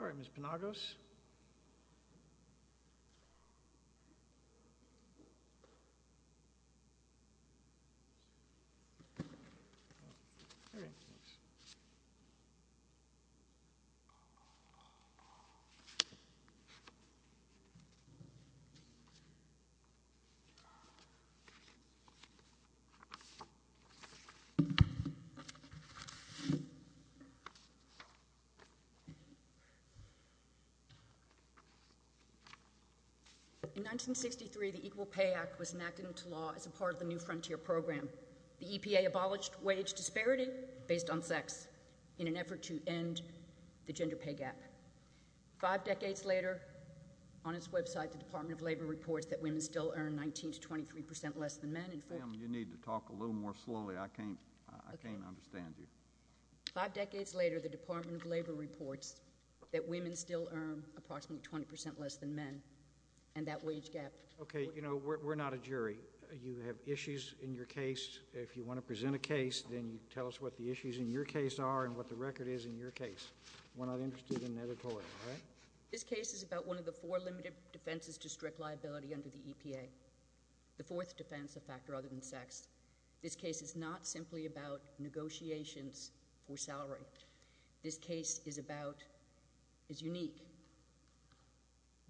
All right, Ms. Penagos. Ms. Penagos. In 1963, the Equal Pay Act was enacted into law as a part of the New Frontier Program. The EPA abolished wage disparity based on sex in an effort to end the gender pay gap. Five decades later, on its website, the Department of Labor reports that women still earn 19 to 23 percent less than men. Ma'am, you need to talk a little more slowly. I can't understand you. Five decades later, the Department of Labor reports that women still earn approximately 20 percent less than men, and that wage gap— Okay, you know, we're not a jury. You have issues in your case. If you want to present a case, then you tell us what the issues in your case are and what the record is in your case. We're not interested in editorial, all right? This case is about one of the four limited defenses to strict liability under the EPA, the fourth defense, a factor other than sex. This case is not simply about negotiations for salary. This case is about—is unique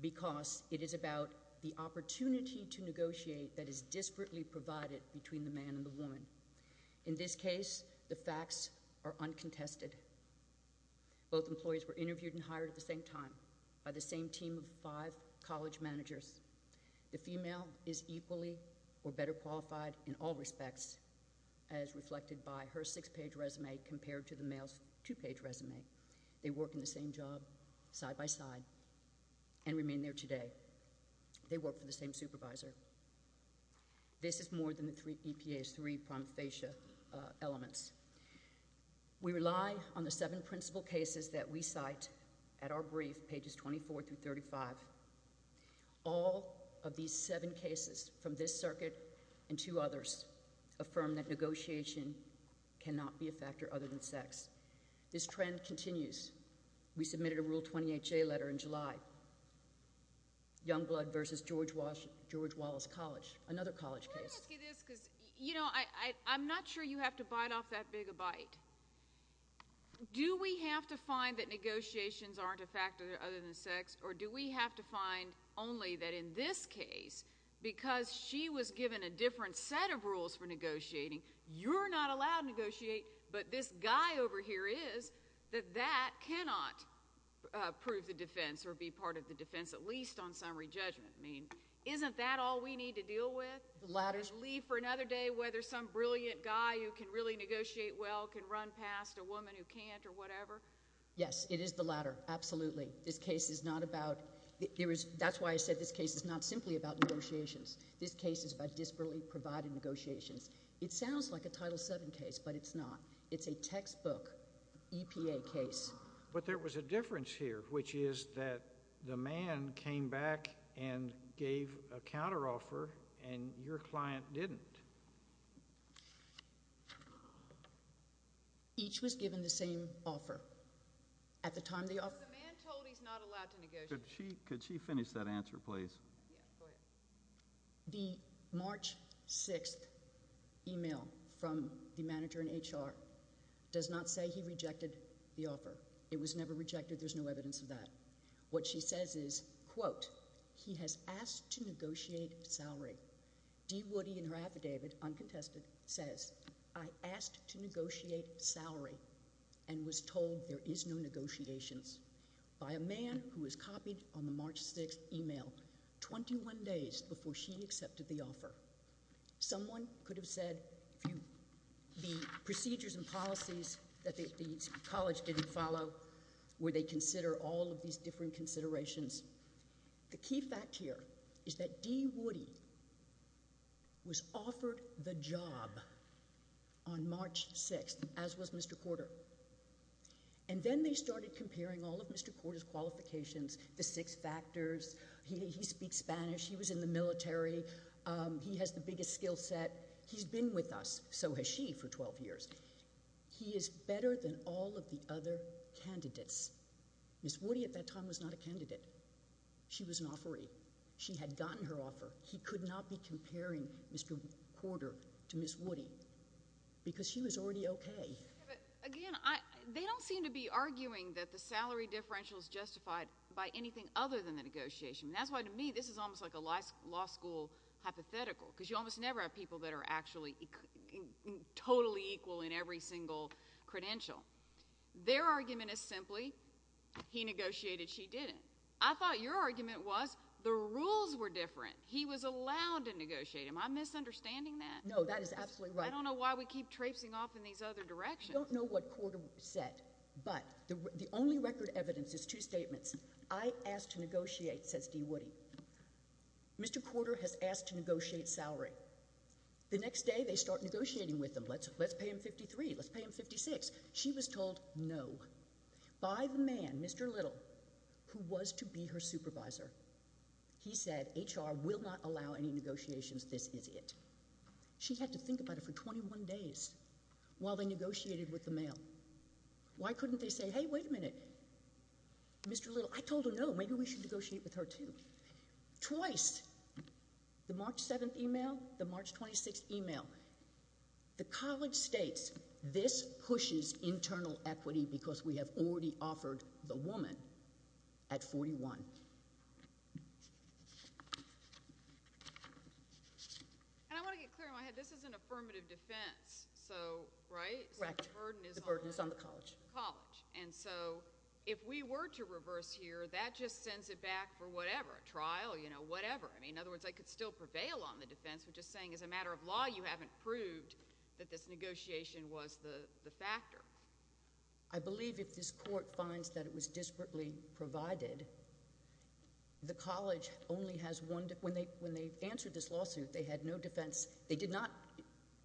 because it is about the opportunity to negotiate that is disparately provided between the man and the woman. In this case, the facts are uncontested. Both employees were interviewed and hired at the same time by the same team of five college managers. The female is equally or better qualified in all respects as reflected by her six-page resume compared to the male's two-page resume. They work in the same job, side by side, and remain there today. They work for the same supervisor. This is more than the EPA's three prima facie elements. We rely on the seven principal cases that we cite at our brief, pages 24 through 35. All of these seven cases from this circuit and two others affirm that negotiation cannot be a factor other than sex. This trend continues. We submitted a Rule 28J letter in July. Youngblood v. George Wallace College, another college case. Let me ask you this because, you know, I'm not sure you have to bite off that big a bite. Do we have to find that negotiations aren't a factor other than sex, or do we have to find only that in this case, because she was given a different set of rules for negotiating, you're not allowed to negotiate, but this guy over here is, that that cannot prove the defense or be part of the defense, at least on summary judgment. I mean, isn't that all we need to deal with? Leave for another day whether some brilliant guy who can really negotiate well can run past a woman who can't or whatever? Yes, it is the latter, absolutely. This case is not about, that's why I said this case is not simply about negotiations. This case is about desperately providing negotiations. It sounds like a Title VII case, but it's not. It's a textbook EPA case. But there was a difference here, which is that the man came back and gave a counteroffer and your client didn't. Each was given the same offer. At the time the offer— The man told he's not allowed to negotiate. Could she finish that answer, please? Yeah, go ahead. The March 6th email from the manager in HR does not say he rejected the offer. It was never rejected. There's no evidence of that. What she says is, quote, he has asked to negotiate salary. Dee Woody in her affidavit uncontested says, I asked to negotiate salary and was told there is no negotiations by a man who was copied on the March 6th email 21 days before she accepted the offer. Someone could have said the procedures and policies that the college didn't follow where they consider all of these different considerations. The key fact here is that Dee Woody was offered the job on March 6th, as was Mr. Korter. And then they started comparing all of Mr. Korter's qualifications, the six factors. He speaks Spanish. He was in the military. He has the biggest skill set. He's been with us. So has she for 12 years. He is better than all of the other candidates. Ms. Woody at that time was not a candidate. She was an offeree. She had gotten her offer. He could not be comparing Mr. Korter to Ms. Woody because she was already okay. Again, they don't seem to be arguing that the salary differential is justified by anything other than the negotiation. And that's why, to me, this is almost like a law school hypothetical because you almost never have people that are actually totally equal in every single credential. Their argument is simply he negotiated, she didn't. I thought your argument was the rules were different. He was allowed to negotiate. Am I misunderstanding that? No, that is absolutely right. I don't know why we keep traipsing off in these other directions. I don't know what Korter said, but the only record evidence is two statements. I asked to negotiate, says Dee Woody. Mr. Korter has asked to negotiate salary. The next day, they start negotiating with him. Let's pay him 53. Let's pay him 56. She was told no. By the man, Mr. Little, who was to be her supervisor, he said HR will not allow any negotiations. This is it. She had to think about it for 21 days while they negotiated with the mail. Why couldn't they say, hey, wait a minute, Mr. Little, I told her no. Maybe we should negotiate with her, too. Twice. The March 7th email, the March 26th email. The college states this pushes internal equity because we have already offered the woman at 41. I want to get clear in my head. This is an affirmative defense, right? The burden is on the college. If we were to reverse here, that just sends it back for whatever, trial, whatever. In other words, I could still prevail on the defense, but just saying as a matter of law you haven't proved that this negotiation was the factor. I believe if this court finds that it was desperately provided, the college only has one... when they answered this lawsuit, they had no defense. They did not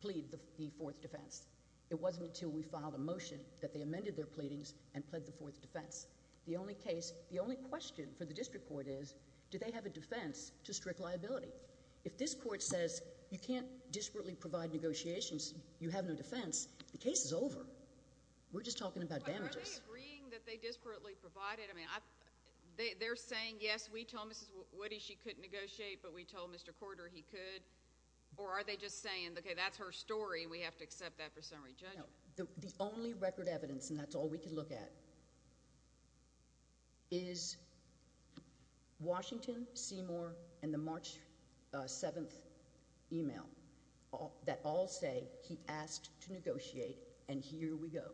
plead the fourth defense. It wasn't until we filed a motion that they amended their pleadings and pled the fourth defense. The only question for the district court is, do they have a defense to strict liability? If this court says, you can't desperately provide negotiations, you have no defense, the case is over. We're just talking about damages. Are they agreeing that they desperately provided? They're saying, yes, we told Mrs. Woody she couldn't negotiate, but we told Mr. Ford he could? Or are they just saying, okay, that's her story, and we have to accept that for summary judgment? The only record evidence, and that's all we can look at, is Washington, Seymour, and the March 7th email that all say he asked to negotiate, and here we go.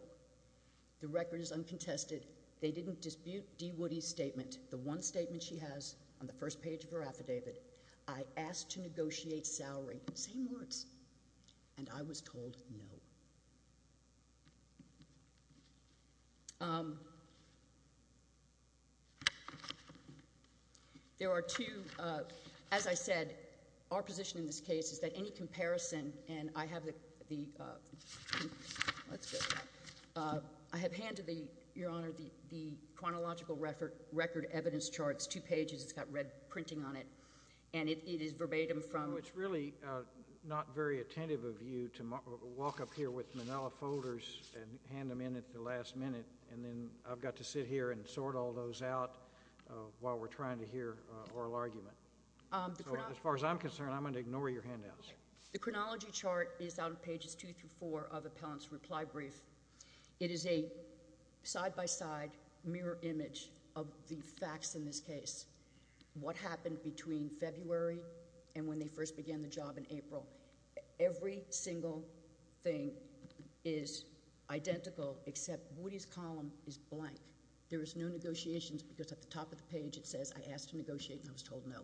The record is uncontested. They didn't dispute Dee Woody's statement. The one statement she has on the first page of her affidavit, I asked to negotiate salary, same words, and I was told no. There are two, as I said, our position in this case is that any comparison, and I have the chronological record evidence charts, two pages, it's got red printing on it, and it is verbatim from... It's really not very attentive of you to walk up here with manila folders and hand them in at the last minute, and then I've got to sit here and sort all those out while we're trying to hear oral argument. As far as I'm concerned, I'm going to ignore your handouts. The chronology chart is on pages two through four of Appellant's reply brief. It is a side-by-side mirror image of the facts in this case, what happened between February and when they first began the job in April. Every single thing is identical except Woody's column is blank. There is no negotiations because at the top of the page it says, I asked to negotiate and I was told no,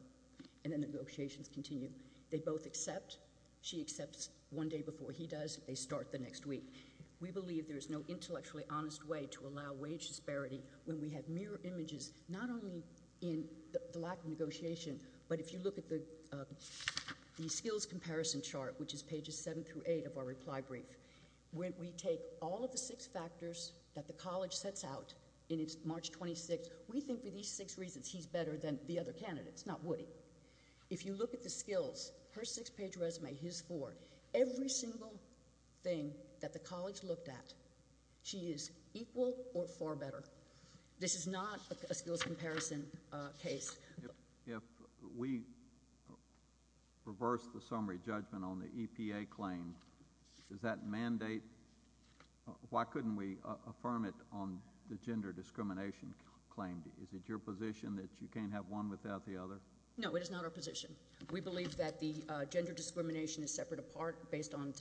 and the negotiations continue. They both accept. She accepts one day before he does. They start the next week. We believe there is no intellectually honest way to allow wage disparity when we have mirror images not only in the lack of negotiation, but if you look at the skills comparison chart, which is pages seven through eight of our reply brief, when we take all of the six factors that the college sets out in its March 26th, we think for these six reasons he's better than the other candidates, not Woody. If you look at the skills, her six-page resume, his four, every single thing that the college looked at, she is equal or far better. This is not a skills comparison case. If we reverse the summary judgment on the EPA claim, does that mandate, why couldn't we affirm it on the gender discrimination claim? Is it your position that you can't have one without the other? No, it is not our position. We believe that the gender discrimination is separate apart based on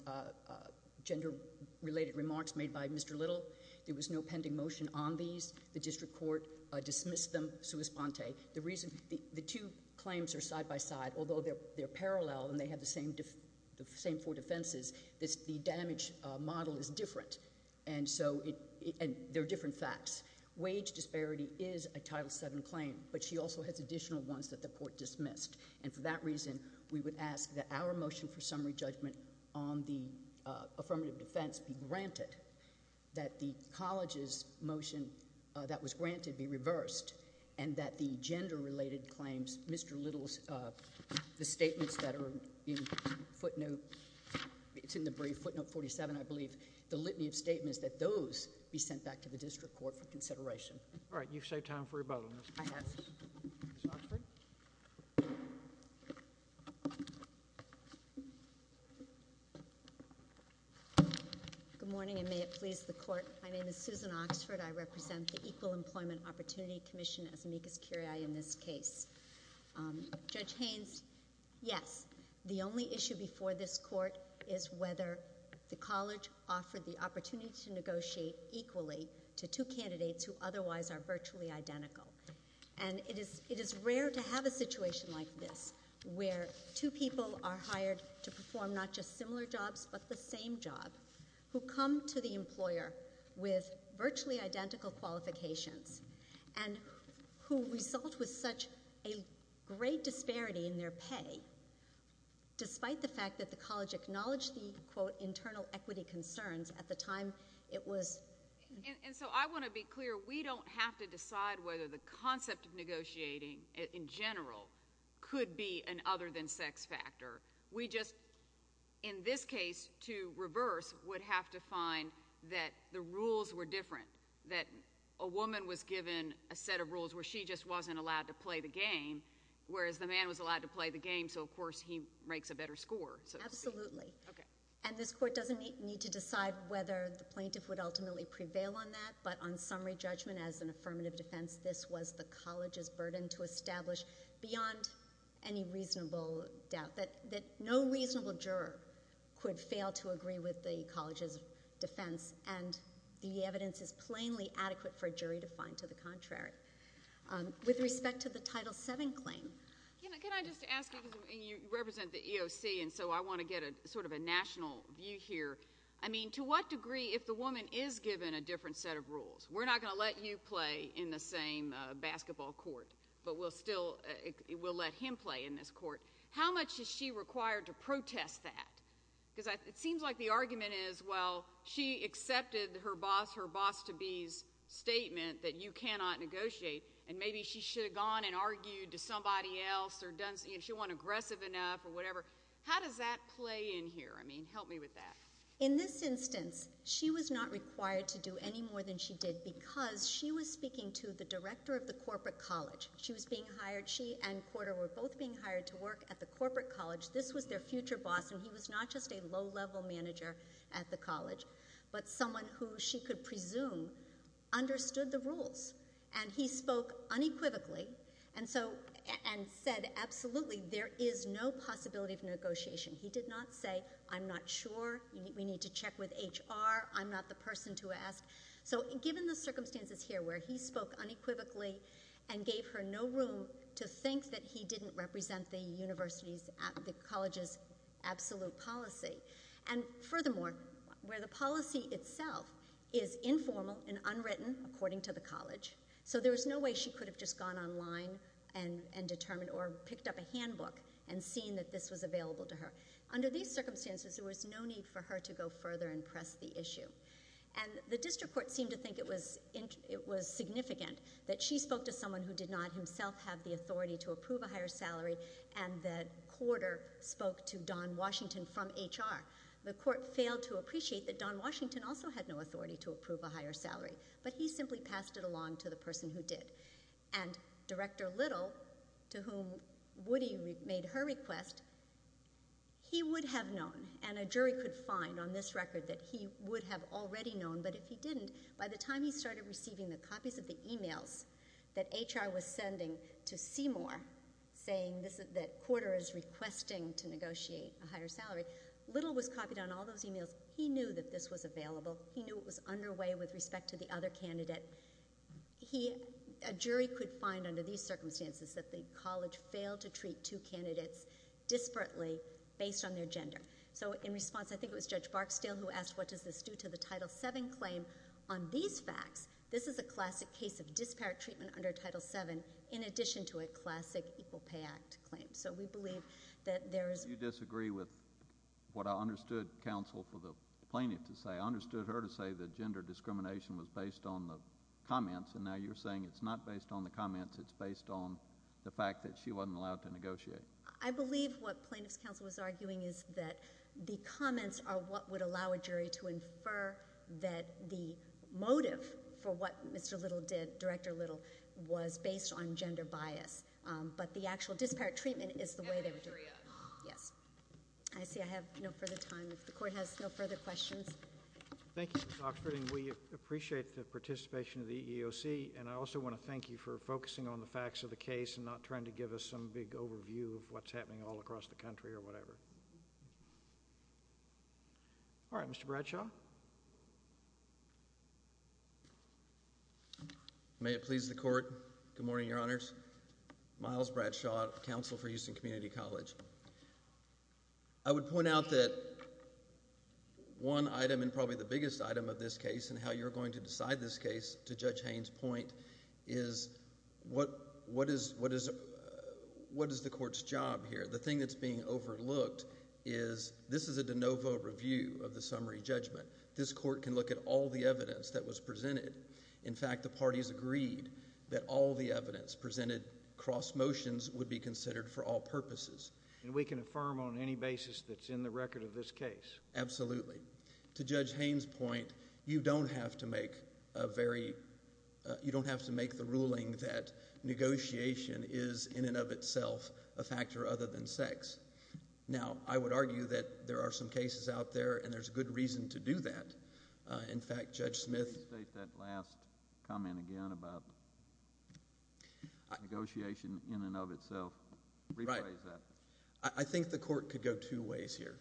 gender-related remarks made by Mr. Little. There was no pending motion on these. The district court dismissed them sui sponte. The two claims are side by side, although they're parallel and they have the same four defenses, the damage model is different, and there are different facts. Wage disparity is a Title VII claim, but she also has additional ones that the court dismissed. And for that reason, we would ask that our motion for summary judgment on the affirmative defense be granted, that the college's motion that was granted be reversed, and that the gender-related claims, Mr. Little's, the statements that are in footnote, it's in the brief, footnote 47, I believe, the litany of statements that those be sent back to the All right. You've saved time for rebuttal. I have. Ms. Oxford? Good morning, and may it please the court. My name is Susan Oxford. I represent the Equal Employment Opportunity Commission, as amicus curiae in this case. Judge Haynes, yes, the only issue before this court is whether the college offered the opportunity to negotiate equally to two candidates who otherwise are virtually identical. And it is rare to have a situation like this, where two people are hired to perform not just similar jobs, but the same job, who come to the employer with virtually identical qualifications, and who result with such a great disparity in their pay, despite the fact that the college acknowledged the, quote, internal equity concerns at the time it was And so I want to be clear, we don't have to decide whether the concept of negotiating, in general, could be an other-than-sex factor. We just, in this case, to reverse, would have to find that the rules were different, that a woman was given a set of rules where she just wasn't allowed to play the game, whereas the man was allowed to play the game, so of course he makes a better score, so to speak. Absolutely. Okay. And this court doesn't need to decide whether the plaintiff would ultimately prevail on that, but on summary judgment, as an affirmative defense, this was the college's burden to establish, beyond any reasonable doubt, that no reasonable juror could fail to agree with the college's defense, and the evidence is plainly adequate for a jury to find to the contrary. With respect to the Title VII claim— Can I just ask, because you represent the EOC, and so I want to get sort of a national view here. I mean, to what degree, if the woman is given a different set of rules—we're not going to let you play in the same basketball court, but we'll still let him play in this court—how much is she required to protest that? Because it seems like the argument is, well, she accepted her boss, her boss-to-be's statement that you cannot negotiate, and maybe she should have gone and argued to somebody else, or she wasn't aggressive enough, or whatever. How does that play in here? I mean, help me with that. In this instance, she was not required to do any more than she did because she was speaking to the director of the corporate college. She was being hired—she and Corder were both being hired to work at the corporate college. This was their future boss, and he was not just a low-level manager at the college, but someone who, she could presume, understood the rules. And he spoke unequivocally and said, absolutely, there is no possibility of negotiation. He did not say, I'm not sure. We need to check with HR. I'm not the person to ask. So given the circumstances here where he spoke unequivocally and gave her no room to think that he didn't represent the college's absolute policy, and furthermore, where the So there was no way she could have just gone online and determined, or picked up a handbook and seen that this was available to her. Under these circumstances, there was no need for her to go further and press the issue. And the district court seemed to think it was significant that she spoke to someone who did not himself have the authority to approve a higher salary, and that Corder spoke to Don Washington from HR. The court failed to appreciate that Don Washington also had no authority to approve a higher to the person who did. And Director Little, to whom Woody made her request, he would have known, and a jury could find on this record that he would have already known, but if he didn't, by the time he started receiving the copies of the emails that HR was sending to Seymour saying that Corder is requesting to negotiate a higher salary, Little was copied on all those emails. He knew that this was available. He knew it was underway with respect to the other candidate. He, a jury could find under these circumstances that the college failed to treat two candidates disparately based on their gender. So in response, I think it was Judge Barksdale who asked, what does this do to the Title VII claim on these facts? This is a classic case of disparate treatment under Title VII, in addition to a classic Equal Pay Act claim. So we believe that there is Do you disagree with what I understood counsel for the plaintiff to say? I understood her to say that gender discrimination was based on the comments, and now you're saying it's not based on the comments, it's based on the fact that she wasn't allowed to negotiate. I believe what plaintiff's counsel was arguing is that the comments are what would allow a jury to infer that the motive for what Mr. Little did, Director Little, was based on gender bias. But the actual disparate treatment is the way they would do it. Yes. I see I have no further time. If the Court has no further questions. Thank you, Ms. Oxford. And we appreciate the participation of the EEOC. And I also want to thank you for focusing on the facts of the case and not trying to give us some big overview of what's happening all across the country or whatever. All right. Mr. Bradshaw. May it please the Court. Good morning, Your Honors. Miles Bradshaw, Counsel for Houston Community College. I would point out that one item and probably the biggest item of this case and how you're going to decide this case, to Judge Haynes' point, is what is the Court's job here? The thing that's being overlooked is this is a de novo review of the summary judgment. This Court can look at all the evidence that was presented. In fact, the parties agreed that all the evidence presented cross motions would be considered for all purposes. And we can affirm on any basis that's in the record of this case? Absolutely. To Judge Haynes' point, you don't have to make a very, you don't have to make the ruling that negotiation is in and of itself a factor other than sex. Now, I would argue that there are some cases out there and there's good reason to do that. In fact, Judge Smith... Can you state that last comment again about negotiation in and of itself? Right. Rephrase that. I think the Court could go two ways here.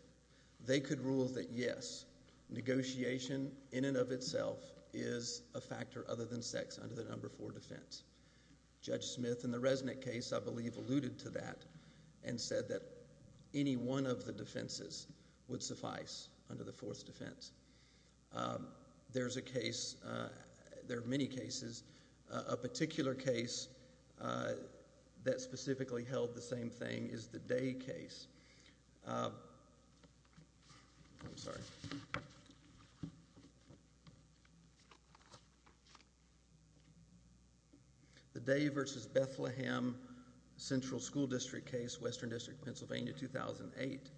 They could rule that, yes, negotiation in and of itself is a factor other than sex under the number four defense. Judge Smith in the Resnick case, I believe, alluded to that and said that any one of the There's a case, there are many cases. A particular case that specifically held the same thing is the Day case. I'm sorry. The Day v. Bethlehem Central School District case, Western District, Pennsylvania, 2008.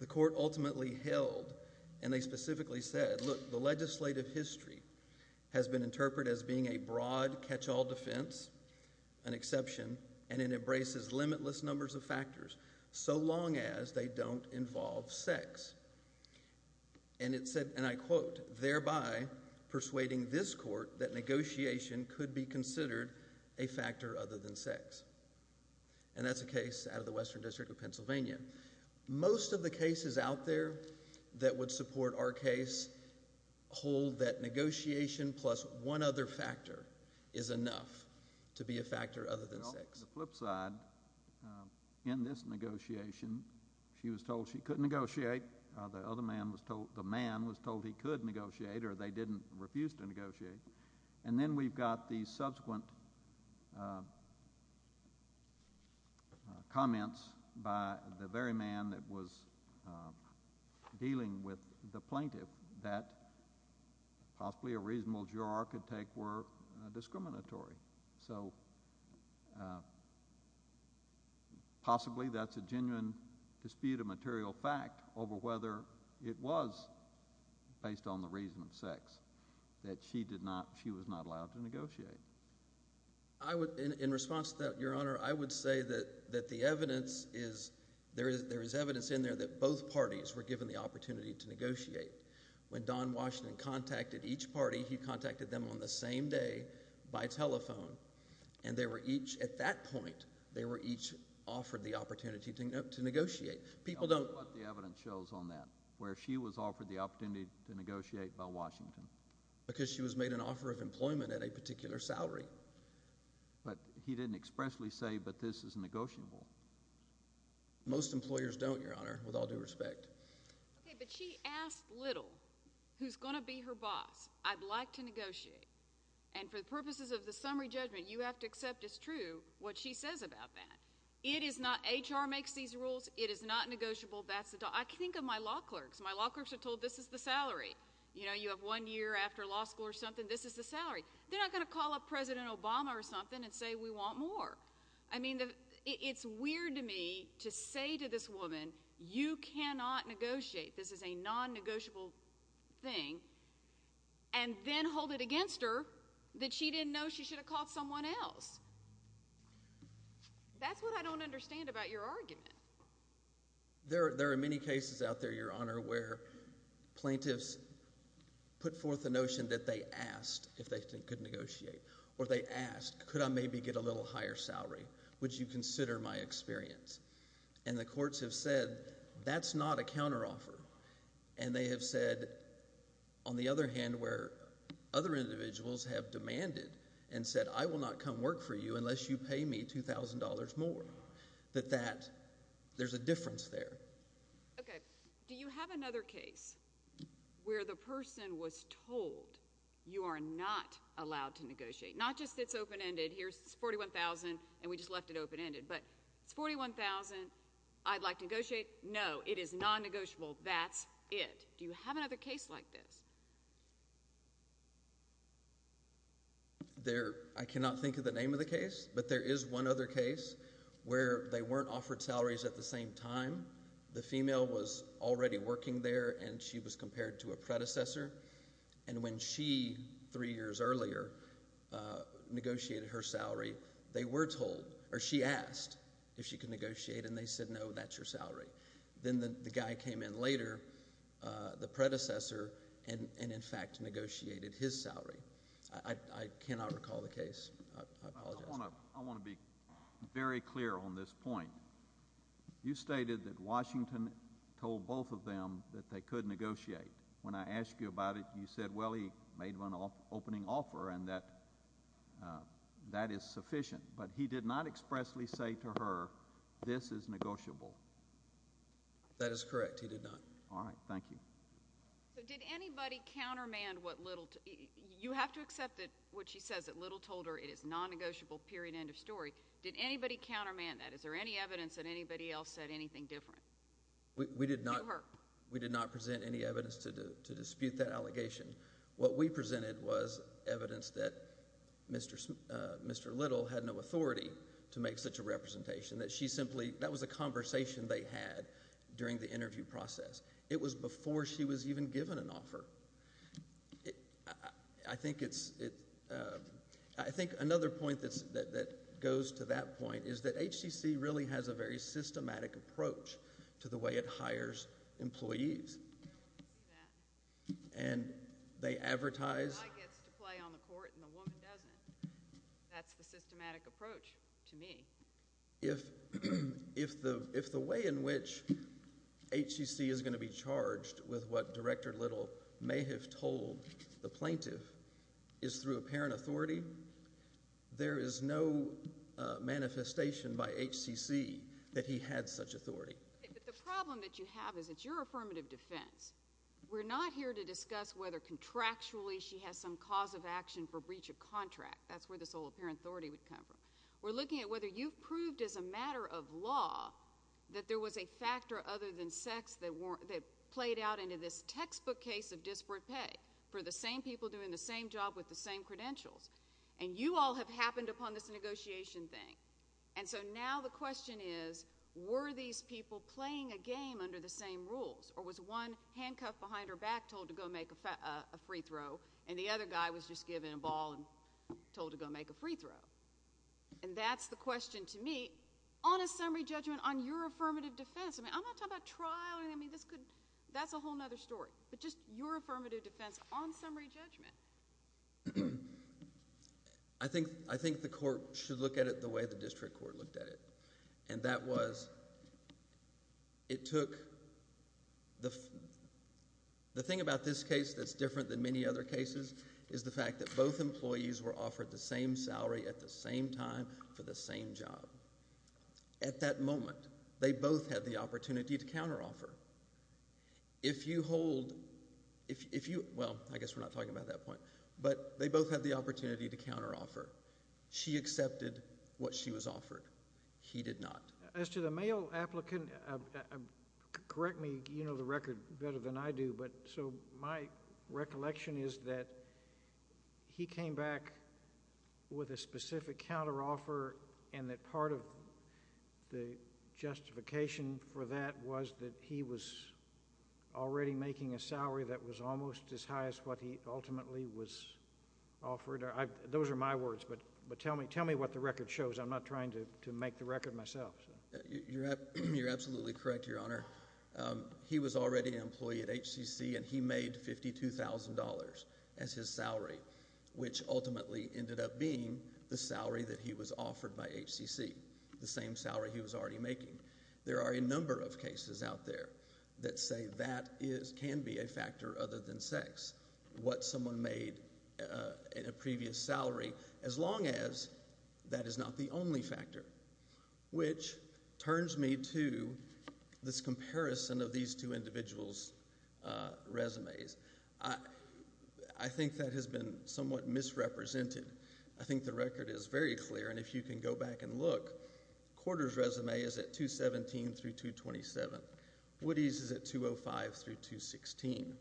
The Court ultimately held and they specifically said, look, the legislative history has been interpreted as being a broad catch-all defense, an exception, and it embraces limitless numbers of factors so long as they don't involve sex. And it said, and I quote, thereby persuading this Court that negotiation could be considered a factor other than sex. And that's a case out of the Western District of Pennsylvania. Most of the cases out there that would support our case hold that negotiation plus one other factor is enough to be a factor other than sex. On the flip side, in this negotiation, she was told she couldn't negotiate. The man was told he could negotiate or they didn't refuse to negotiate. And then we've got the subsequent comments by the very man that was dealing with the plaintiff that possibly a reasonable juror could take were discriminatory. So possibly that's a genuine dispute of material fact over whether it was based on the reason of sex that she did not, she was not allowed to negotiate. I would, in response to that, Your Honor, I would say that the evidence is, there is evidence in there that both parties were given the opportunity to negotiate. When Don Washington contacted each party, he contacted them on the same day by telephone. And they were each, at that point, they were each offered the opportunity to negotiate. The evidence shows on that, where she was offered the opportunity to negotiate by Washington. Because she was made an offer of employment at a particular salary. But he didn't expressly say, but this is negotiable. Most employers don't, Your Honor, with all due respect. Okay, but she asked Little, who's going to be her boss, I'd like to negotiate. And for the purposes of the summary judgment, you have to accept it's true what she says about that. It is not, HR makes these rules, it is not negotiable, that's the, I think of my law clerks. My law clerks are told this is the salary. You know, you have one year after law school or something, this is the salary. They're not going to call up President Obama or something and say we want more. I mean, it's weird to me to say to this woman, you cannot negotiate. This is a non-negotiable thing. And then hold it against her that she didn't know she should have called someone else. That's what I don't understand about your argument. There are many cases out there, Your Honor, where plaintiffs put forth the notion that they asked if they could negotiate. Or they asked, could I maybe get a little higher salary? Would you consider my experience? And the courts have said that's not a counteroffer. And they have said, on the other hand, where other individuals have demanded and said I will not come work for you unless you pay me $2,000 more. That that, there's a difference there. Okay. Do you have another case where the person was told you are not allowed to negotiate? Not just it's open-ended. Here's $41,000, and we just left it open-ended. But it's $41,000, I'd like to negotiate. No, it is non-negotiable. That's it. Do you have another case like this? There, I cannot think of the name of the case, but there is one other case where they weren't offered salaries at the same time. The female was already working there, and she was compared to a predecessor. And when she, three years earlier, negotiated her salary, they were told, or she asked if she could negotiate, and they said no, that's your salary. Then the guy came in later, the predecessor, and in fact negotiated his salary. I cannot recall the case. I apologize. I want to be very clear on this point. You stated that Washington told both of them that they could negotiate. When I asked you about it, you said, well, he made an opening offer and that that is sufficient. But he did not expressly say to her, this is negotiable. That is correct. He did not. All right. Thank you. So did anybody countermand what Little, you have to accept what she says, that Little told her it is non-negotiable, period, end of story. Did anybody countermand that? Is there any evidence that anybody else said anything different to her? We did not present any evidence to dispute that allegation. What we presented was evidence that Mr. Little had no authority to make such a representation, that she simply, that was a conversation they had during the interview process. I think it's, I think another point that goes to that point is that HTC really has a very systematic approach to the way it hires employees. And they advertise. The guy gets to play on the court and the woman doesn't. That's the systematic approach to me. If the way in which HTC is going to be charged with what Director Little may have told the plaintiff is through apparent authority, there is no manifestation by HTC that he had such authority. But the problem that you have is it's your affirmative defense. We're not here to discuss whether contractually she has some cause of action for breach of contract. That's where this whole apparent authority would come from. We're looking at whether you've proved as a matter of law that there was a factor other than sex that played out into this textbook case of disparate pay for the same people doing the same job with the same credentials. And you all have happened upon this negotiation thing. And so now the question is, were these people playing a game under the same rules? Or was one handcuffed behind her back, told to go make a free throw, and the other guy was just given a ball and told to go make a free throw? And that's the question to me on a summary judgment on your affirmative defense. I mean, I'm not talking about trial. I mean, that's a whole other story. But just your affirmative defense on summary judgment. I think the court should look at it the way the district court looked at it. And that was it took – the thing about this case that's different than many other cases is the fact that both employees were offered the same salary at the same time for the same job. At that moment, they both had the opportunity to counteroffer. If you hold – well, I guess we're not talking about that point. But they both had the opportunity to counteroffer. She accepted what she was offered. He did not. As to the male applicant, correct me. You know the record better than I do. But so my recollection is that he came back with a specific counteroffer and that part of the justification for that was that he was already making a salary that was almost as high as what he ultimately was offered. Those are my words, but tell me what the record shows. I'm not trying to make the record myself. You're absolutely correct, Your Honor. He was already an employee at HCC, and he made $52,000 as his salary, which ultimately ended up being the salary that he was offered by HCC, the same salary he was already making. There are a number of cases out there that say that can be a factor other than sex, what someone made in a previous salary, as long as that is not the only factor. Which turns me to this comparison of these two individuals' resumes. I think that has been somewhat misrepresented. I think the record is very clear, and if you can go back and look, Corder's resume is at 217 through 227. Woody's is at 205 through 216.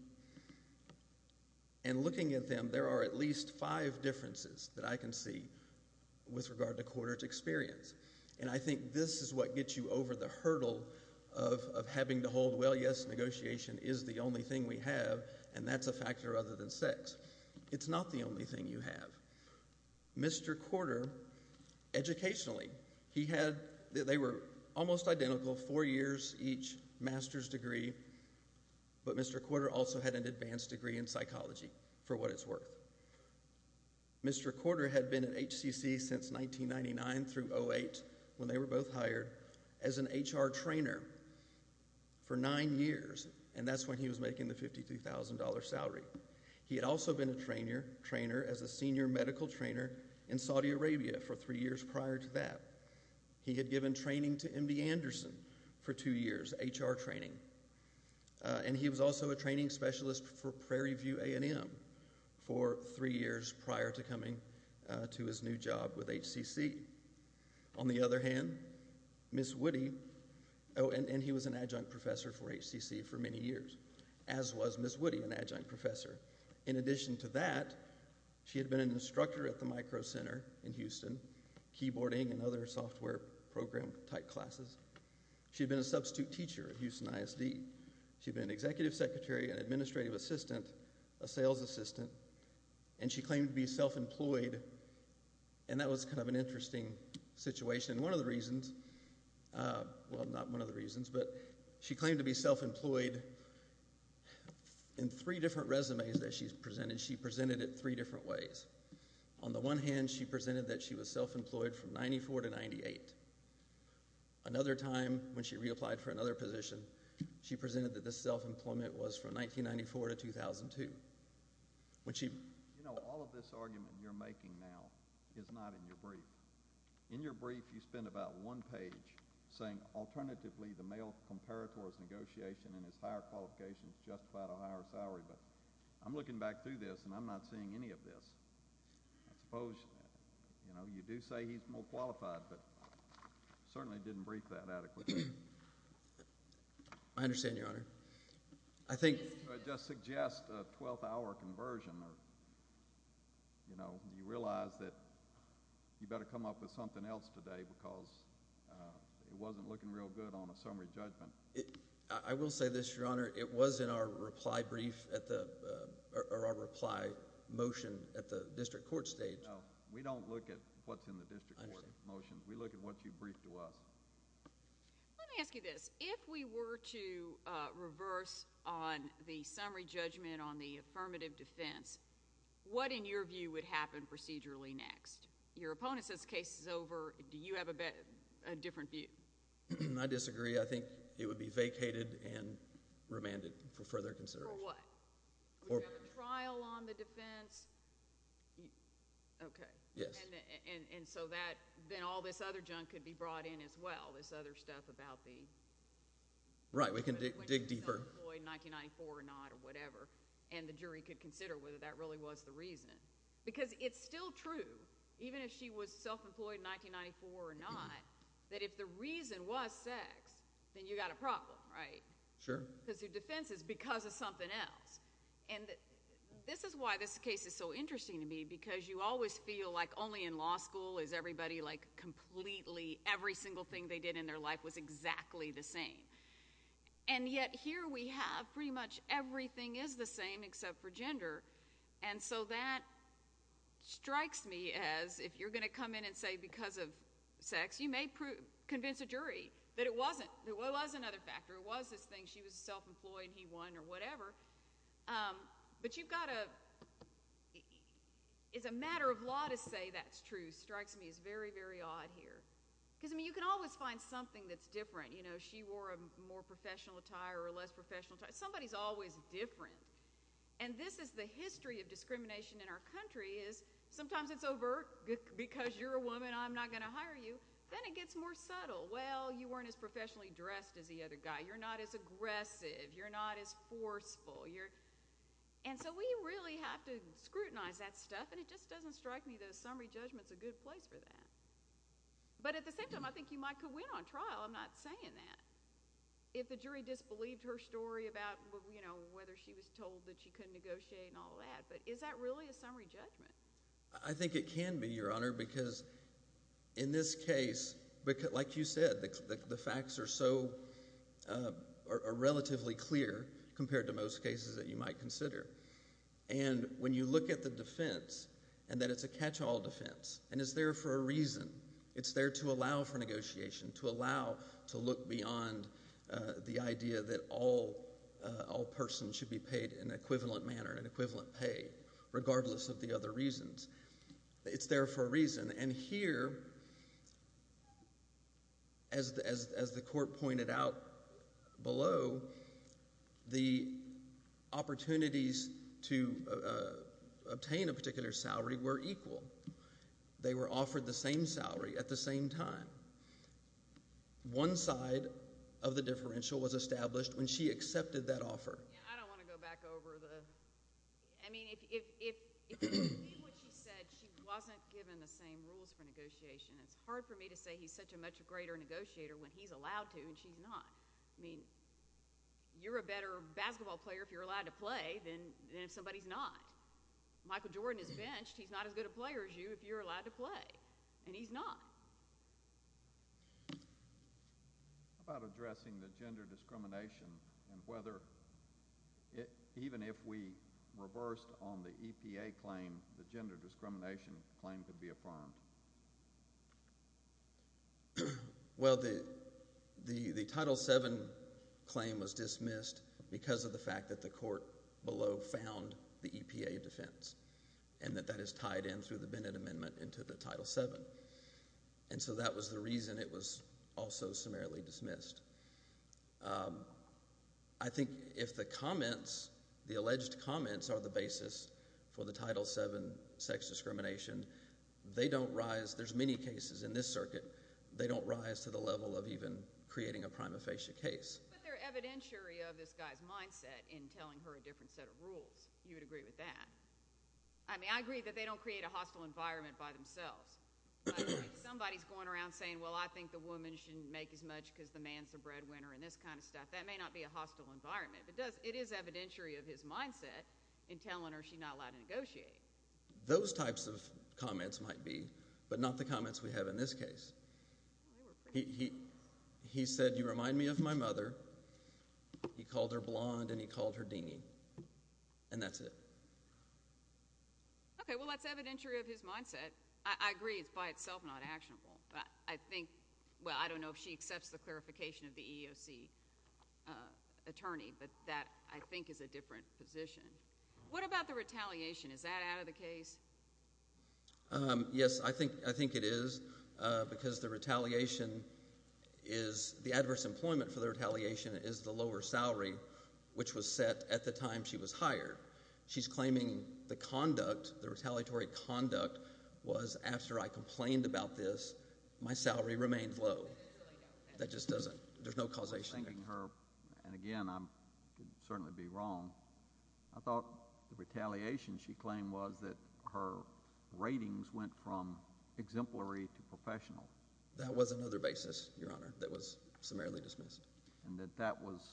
And looking at them, there are at least five differences that I can see with regard to Corder's experience. And I think this is what gets you over the hurdle of having to hold, well, yes, negotiation is the only thing we have, and that's a factor other than sex. It's not the only thing you have. Mr. Corder, educationally, they were almost identical, four years each, master's degree, but Mr. Corder also had an advanced degree in psychology, for what it's worth. Mr. Corder had been at HCC since 1999 through 2008, when they were both hired, as an HR trainer for nine years, and that's when he was making the $52,000 salary. He had also been a trainer as a senior medical trainer in Saudi Arabia for three years prior to that. He had given training to MD Anderson for two years, HR training. And he was also a training specialist for Prairie View A&M for three years prior to coming to his new job with HCC. On the other hand, Ms. Woody, oh, and he was an adjunct professor for HCC for many years, as was Ms. Woody, an adjunct professor. In addition to that, she had been an instructor at the Micro Center in Houston, keyboarding and other software program type classes. She had been a substitute teacher at Houston ISD. She had been an executive secretary, an administrative assistant, a sales assistant, and she claimed to be self-employed. And that was kind of an interesting situation. One of the reasons, well, not one of the reasons, but she claimed to be self-employed in three different resumes that she presented. She presented it three different ways. On the one hand, she presented that she was self-employed from 1994 to 1998. Another time, when she reapplied for another position, she presented that this self-employment was from 1994 to 2002. You know, all of this argument you're making now is not in your brief. In your brief, you spend about one page saying, alternatively, the male comparator's negotiation and his higher qualifications justified a higher salary. But I'm looking back through this, and I'm not seeing any of this. I suppose, you know, you do say he's more qualified, but certainly didn't brief that adequately. I understand, Your Honor. I just suggest a 12-hour conversion. You know, you realize that you better come up with something else today because it wasn't looking real good on a summary judgment. I will say this, Your Honor. It was in our reply brief at the – or our reply motion at the district court stage. No, we don't look at what's in the district court motion. We look at what you briefed to us. Let me ask you this. If we were to reverse on the summary judgment on the affirmative defense, what, in your view, would happen procedurally next? Your opponent says the case is over. Do you have a different view? I disagree. I think it would be vacated and remanded for further consideration. For what? We have a trial on the defense. Okay. Yes. And so that – then all this other junk could be brought in as well, this other stuff about the – Right. We can dig deeper. When she was self-employed in 1994 or not or whatever, and the jury could consider whether that really was the reason. Because it's still true, even if she was self-employed in 1994 or not, that if the reason was sex, then you've got a problem, right? Sure. Because the defense is because of something else. And this is why this case is so interesting to me because you always feel like only in law school is everybody like completely – every single thing they did in their life was exactly the same. And yet here we have pretty much everything is the same except for gender. And so that strikes me as if you're going to come in and say because of sex, you may convince a jury that it wasn't. Well, it was another factor. It was this thing. She was self-employed and he won or whatever. But you've got to – it's a matter of law to say that's true strikes me as very, very odd here. Because, I mean, you can always find something that's different. You know, she wore a more professional attire or a less professional attire. Somebody is always different. And this is the history of discrimination in our country is sometimes it's overt because you're a woman, I'm not going to hire you. Then it gets more subtle. Well, you weren't as professionally dressed as the other guy. You're not as aggressive. You're not as forceful. And so we really have to scrutinize that stuff, and it just doesn't strike me that a summary judgment is a good place for that. But at the same time, I think you might could win on trial. I'm not saying that. If the jury disbelieved her story about, you know, whether she was told that she couldn't negotiate and all that. But is that really a summary judgment? I think it can be, Your Honor, because in this case, like you said, the facts are so relatively clear compared to most cases that you might consider. And when you look at the defense and that it's a catch-all defense and it's there for a reason, it's there to allow for negotiation, to allow to look beyond the idea that all persons should be paid in an equivalent manner and equivalent pay, regardless of the other reasons. It's there for a reason. And here, as the court pointed out below, the opportunities to obtain a particular salary were equal. They were offered the same salary at the same time. One side of the differential was established when she accepted that offer. I don't want to go back over the – I mean if you read what she said, she wasn't given the same rules for negotiation. It's hard for me to say he's such a much greater negotiator when he's allowed to and she's not. I mean you're a better basketball player if you're allowed to play than if somebody's not. Michael Jordan is benched. He's not as good a player as you if you're allowed to play, and he's not. How about addressing the gender discrimination and whether even if we reversed on the EPA claim, the gender discrimination claim could be affirmed? Well, the Title VII claim was dismissed because of the fact that the court below found the EPA defense and that that is tied in through the Bennett Amendment into the Title VII. And so that was the reason it was also summarily dismissed. I think if the comments, the alleged comments are the basis for the Title VII sex discrimination, they don't rise. There's many cases in this circuit. They don't rise to the level of even creating a prima facie case. But they're evidentiary of this guy's mindset in telling her a different set of rules. You would agree with that? I mean I agree that they don't create a hostile environment by themselves. Somebody's going around saying, well, I think the woman shouldn't make as much because the man's a breadwinner and this kind of stuff. That may not be a hostile environment, but it is evidentiary of his mindset in telling her she's not allowed to negotiate. Those types of comments might be, but not the comments we have in this case. He said, you remind me of my mother. He called her blonde and he called her deany, and that's it. I agree it's by itself not actionable, but I think – well, I don't know if she accepts the clarification of the EEOC attorney, but that I think is a different position. What about the retaliation? Is that out of the case? Yes, I think it is because the retaliation is – the adverse employment for the retaliation is the lower salary, which was set at the time she was hired. She's claiming the conduct, the retaliatory conduct was after I complained about this, my salary remained low. That just doesn't – there's no causation there. And again, I could certainly be wrong. I thought the retaliation she claimed was that her ratings went from exemplary to professional. That was another basis, Your Honor, that was summarily dismissed. And that that was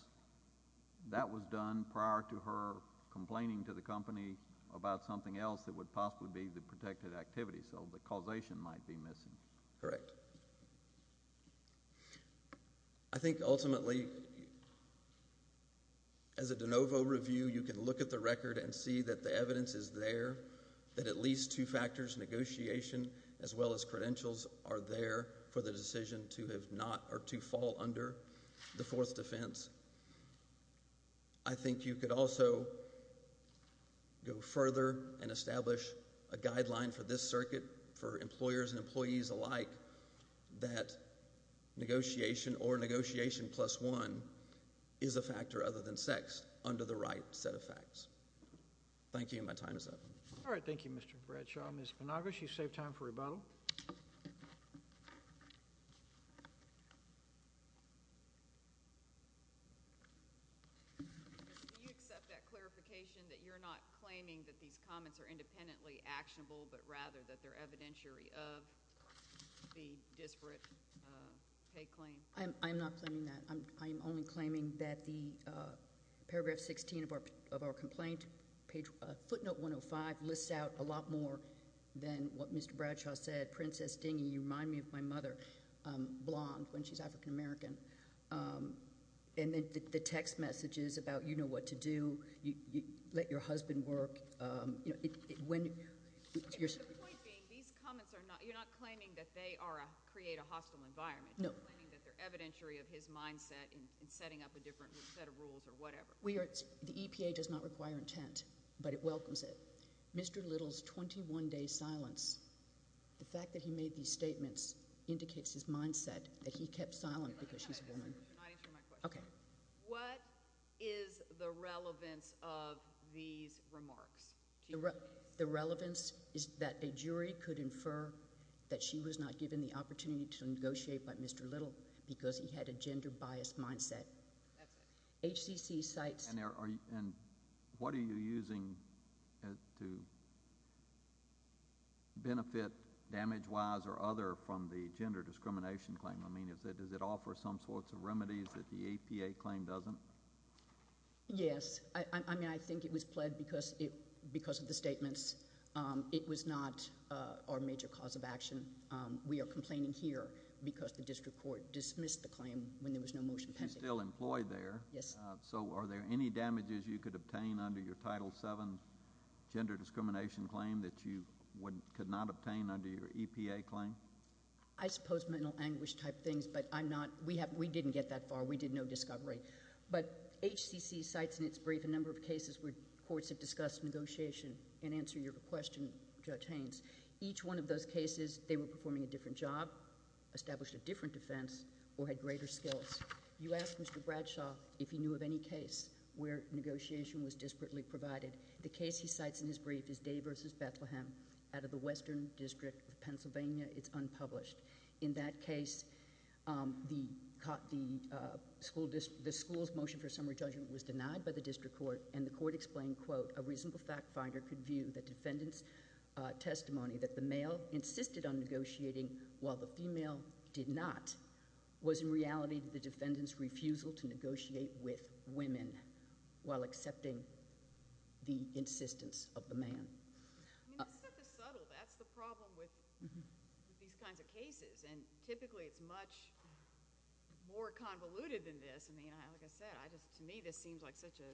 done prior to her complaining to the company about something else that would possibly be the protected activity. So the causation might be missing. Correct. I think ultimately, as a de novo review, you can look at the record and see that the evidence is there, that at least two factors, negotiation as well as credentials, are there for the decision to have not or to fall under the Fourth Defense. I think you could also go further and establish a guideline for this circuit, for employers and employees alike, that negotiation or negotiation plus one is a factor other than sex under the right set of facts. Thank you, and my time is up. All right, thank you, Mr. Bradshaw. Ms. Penagos, you've saved time for rebuttal. Do you accept that clarification that you're not claiming that these comments are independently actionable, but rather that they're evidentiary of the disparate pay claim? I'm not claiming that. I'm only claiming that the paragraph 16 of our complaint, footnote 105, lists out a lot more than what Mr. Bradshaw said. He said, Princess Dingy, you remind me of my mother, blonde, when she's African American. And then the text messages about you know what to do, let your husband work. The point being, these comments are not, you're not claiming that they create a hostile environment. No. You're claiming that they're evidentiary of his mindset in setting up a different set of rules or whatever. The EPA does not require intent, but it welcomes it. Mr. Little's 21-day silence, the fact that he made these statements, indicates his mindset that he kept silent because she's a woman. You're not answering my question. Okay. What is the relevance of these remarks to you? The relevance is that a jury could infer that she was not given the opportunity to negotiate by Mr. Little because he had a gender-biased mindset. That's it. HCC cites— And what are you using to benefit, damage-wise or other, from the gender discrimination claim? I mean, does it offer some sorts of remedies that the EPA claim doesn't? Yes. I mean, I think it was pled because of the statements. It was not our major cause of action. We are complaining here because the district court dismissed the claim when there was no motion pending. She's still employed there. Yes. So are there any damages you could obtain under your Title VII gender discrimination claim that you could not obtain under your EPA claim? I suppose mental anguish-type things, but I'm not—we didn't get that far. We did no discovery. But HCC cites in its brief a number of cases where courts have discussed negotiation and answer your question, Judge Haynes. Each one of those cases, they were performing a different job, established a different defense, or had greater skills. You asked Mr. Bradshaw if he knew of any case where negotiation was disparately provided. The case he cites in his brief is Day v. Bethlehem out of the Western District of Pennsylvania. It's unpublished. In that case, the school's motion for summary judgment was denied by the district court, and the court explained, quote, a reasonable fact finder could view the defendant's testimony that the male insisted on negotiating while the female did not was in reality the defendant's refusal to negotiate with women while accepting the insistence of the man. I mean, this stuff is subtle. That's the problem with these kinds of cases, and typically it's much more convoluted than this. I mean, like I said, to me this seems like such a—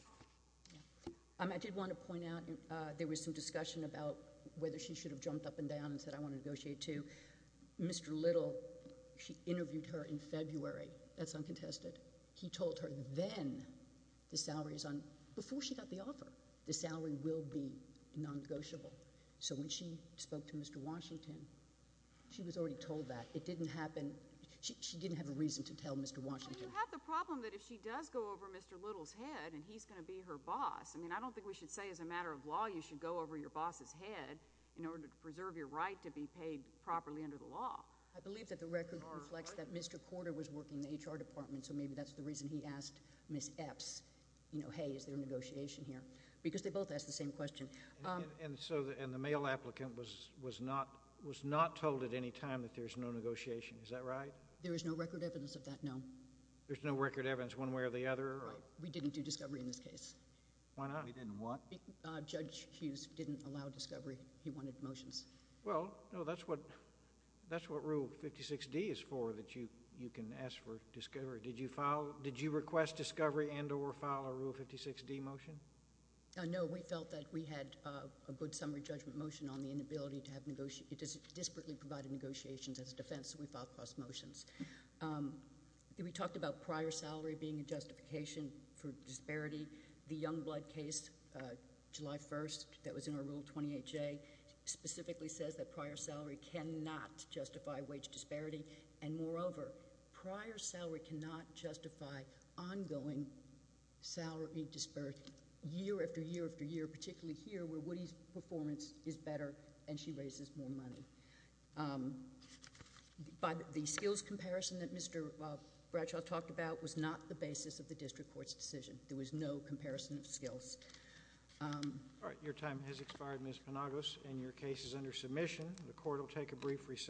I did want to point out there was some discussion about whether she should have jumped up and down and said, I want to negotiate too. Mr. Little, she interviewed her in February. That's uncontested. He told her then the salary is on—before she got the offer, the salary will be non-negotiable. So when she spoke to Mr. Washington, she was already told that. It didn't happen—she didn't have a reason to tell Mr. Washington. You have the problem that if she does go over Mr. Little's head and he's going to be her boss, I mean, I don't think we should say as a matter of law you should go over your boss's head in order to preserve your right to be paid properly under the law. I believe that the record reflects that Mr. Corder was working in the HR department, so maybe that's the reason he asked Ms. Epps, you know, hey, is there a negotiation here? Because they both asked the same question. And the male applicant was not told at any time that there's no negotiation. Is that right? There is no record evidence of that, no. There's no record evidence one way or the other? Right. We didn't do discovery in this case. Why not? We didn't what? Judge Hughes didn't allow discovery. He wanted motions. Well, no, that's what Rule 56D is for, that you can ask for discovery. Did you file—did you request discovery and or file a Rule 56D motion? No, we felt that we had a good summary judgment motion on the inability to have— it disparately provided negotiations as a defense, so we filed cross motions. We talked about prior salary being a justification for disparity. The Youngblood case, July 1st, that was in our Rule 28J, specifically says that prior salary cannot justify wage disparity. And, moreover, prior salary cannot justify ongoing salary disparity, year after year after year, particularly here where Woody's performance is better and she raises more money. But the skills comparison that Mr. Bradshaw talked about was not the basis of the district court's decision. There was no comparison of skills. All right. Your time has expired, Ms. Panagos, and your case is under submission. The court will take a brief recess.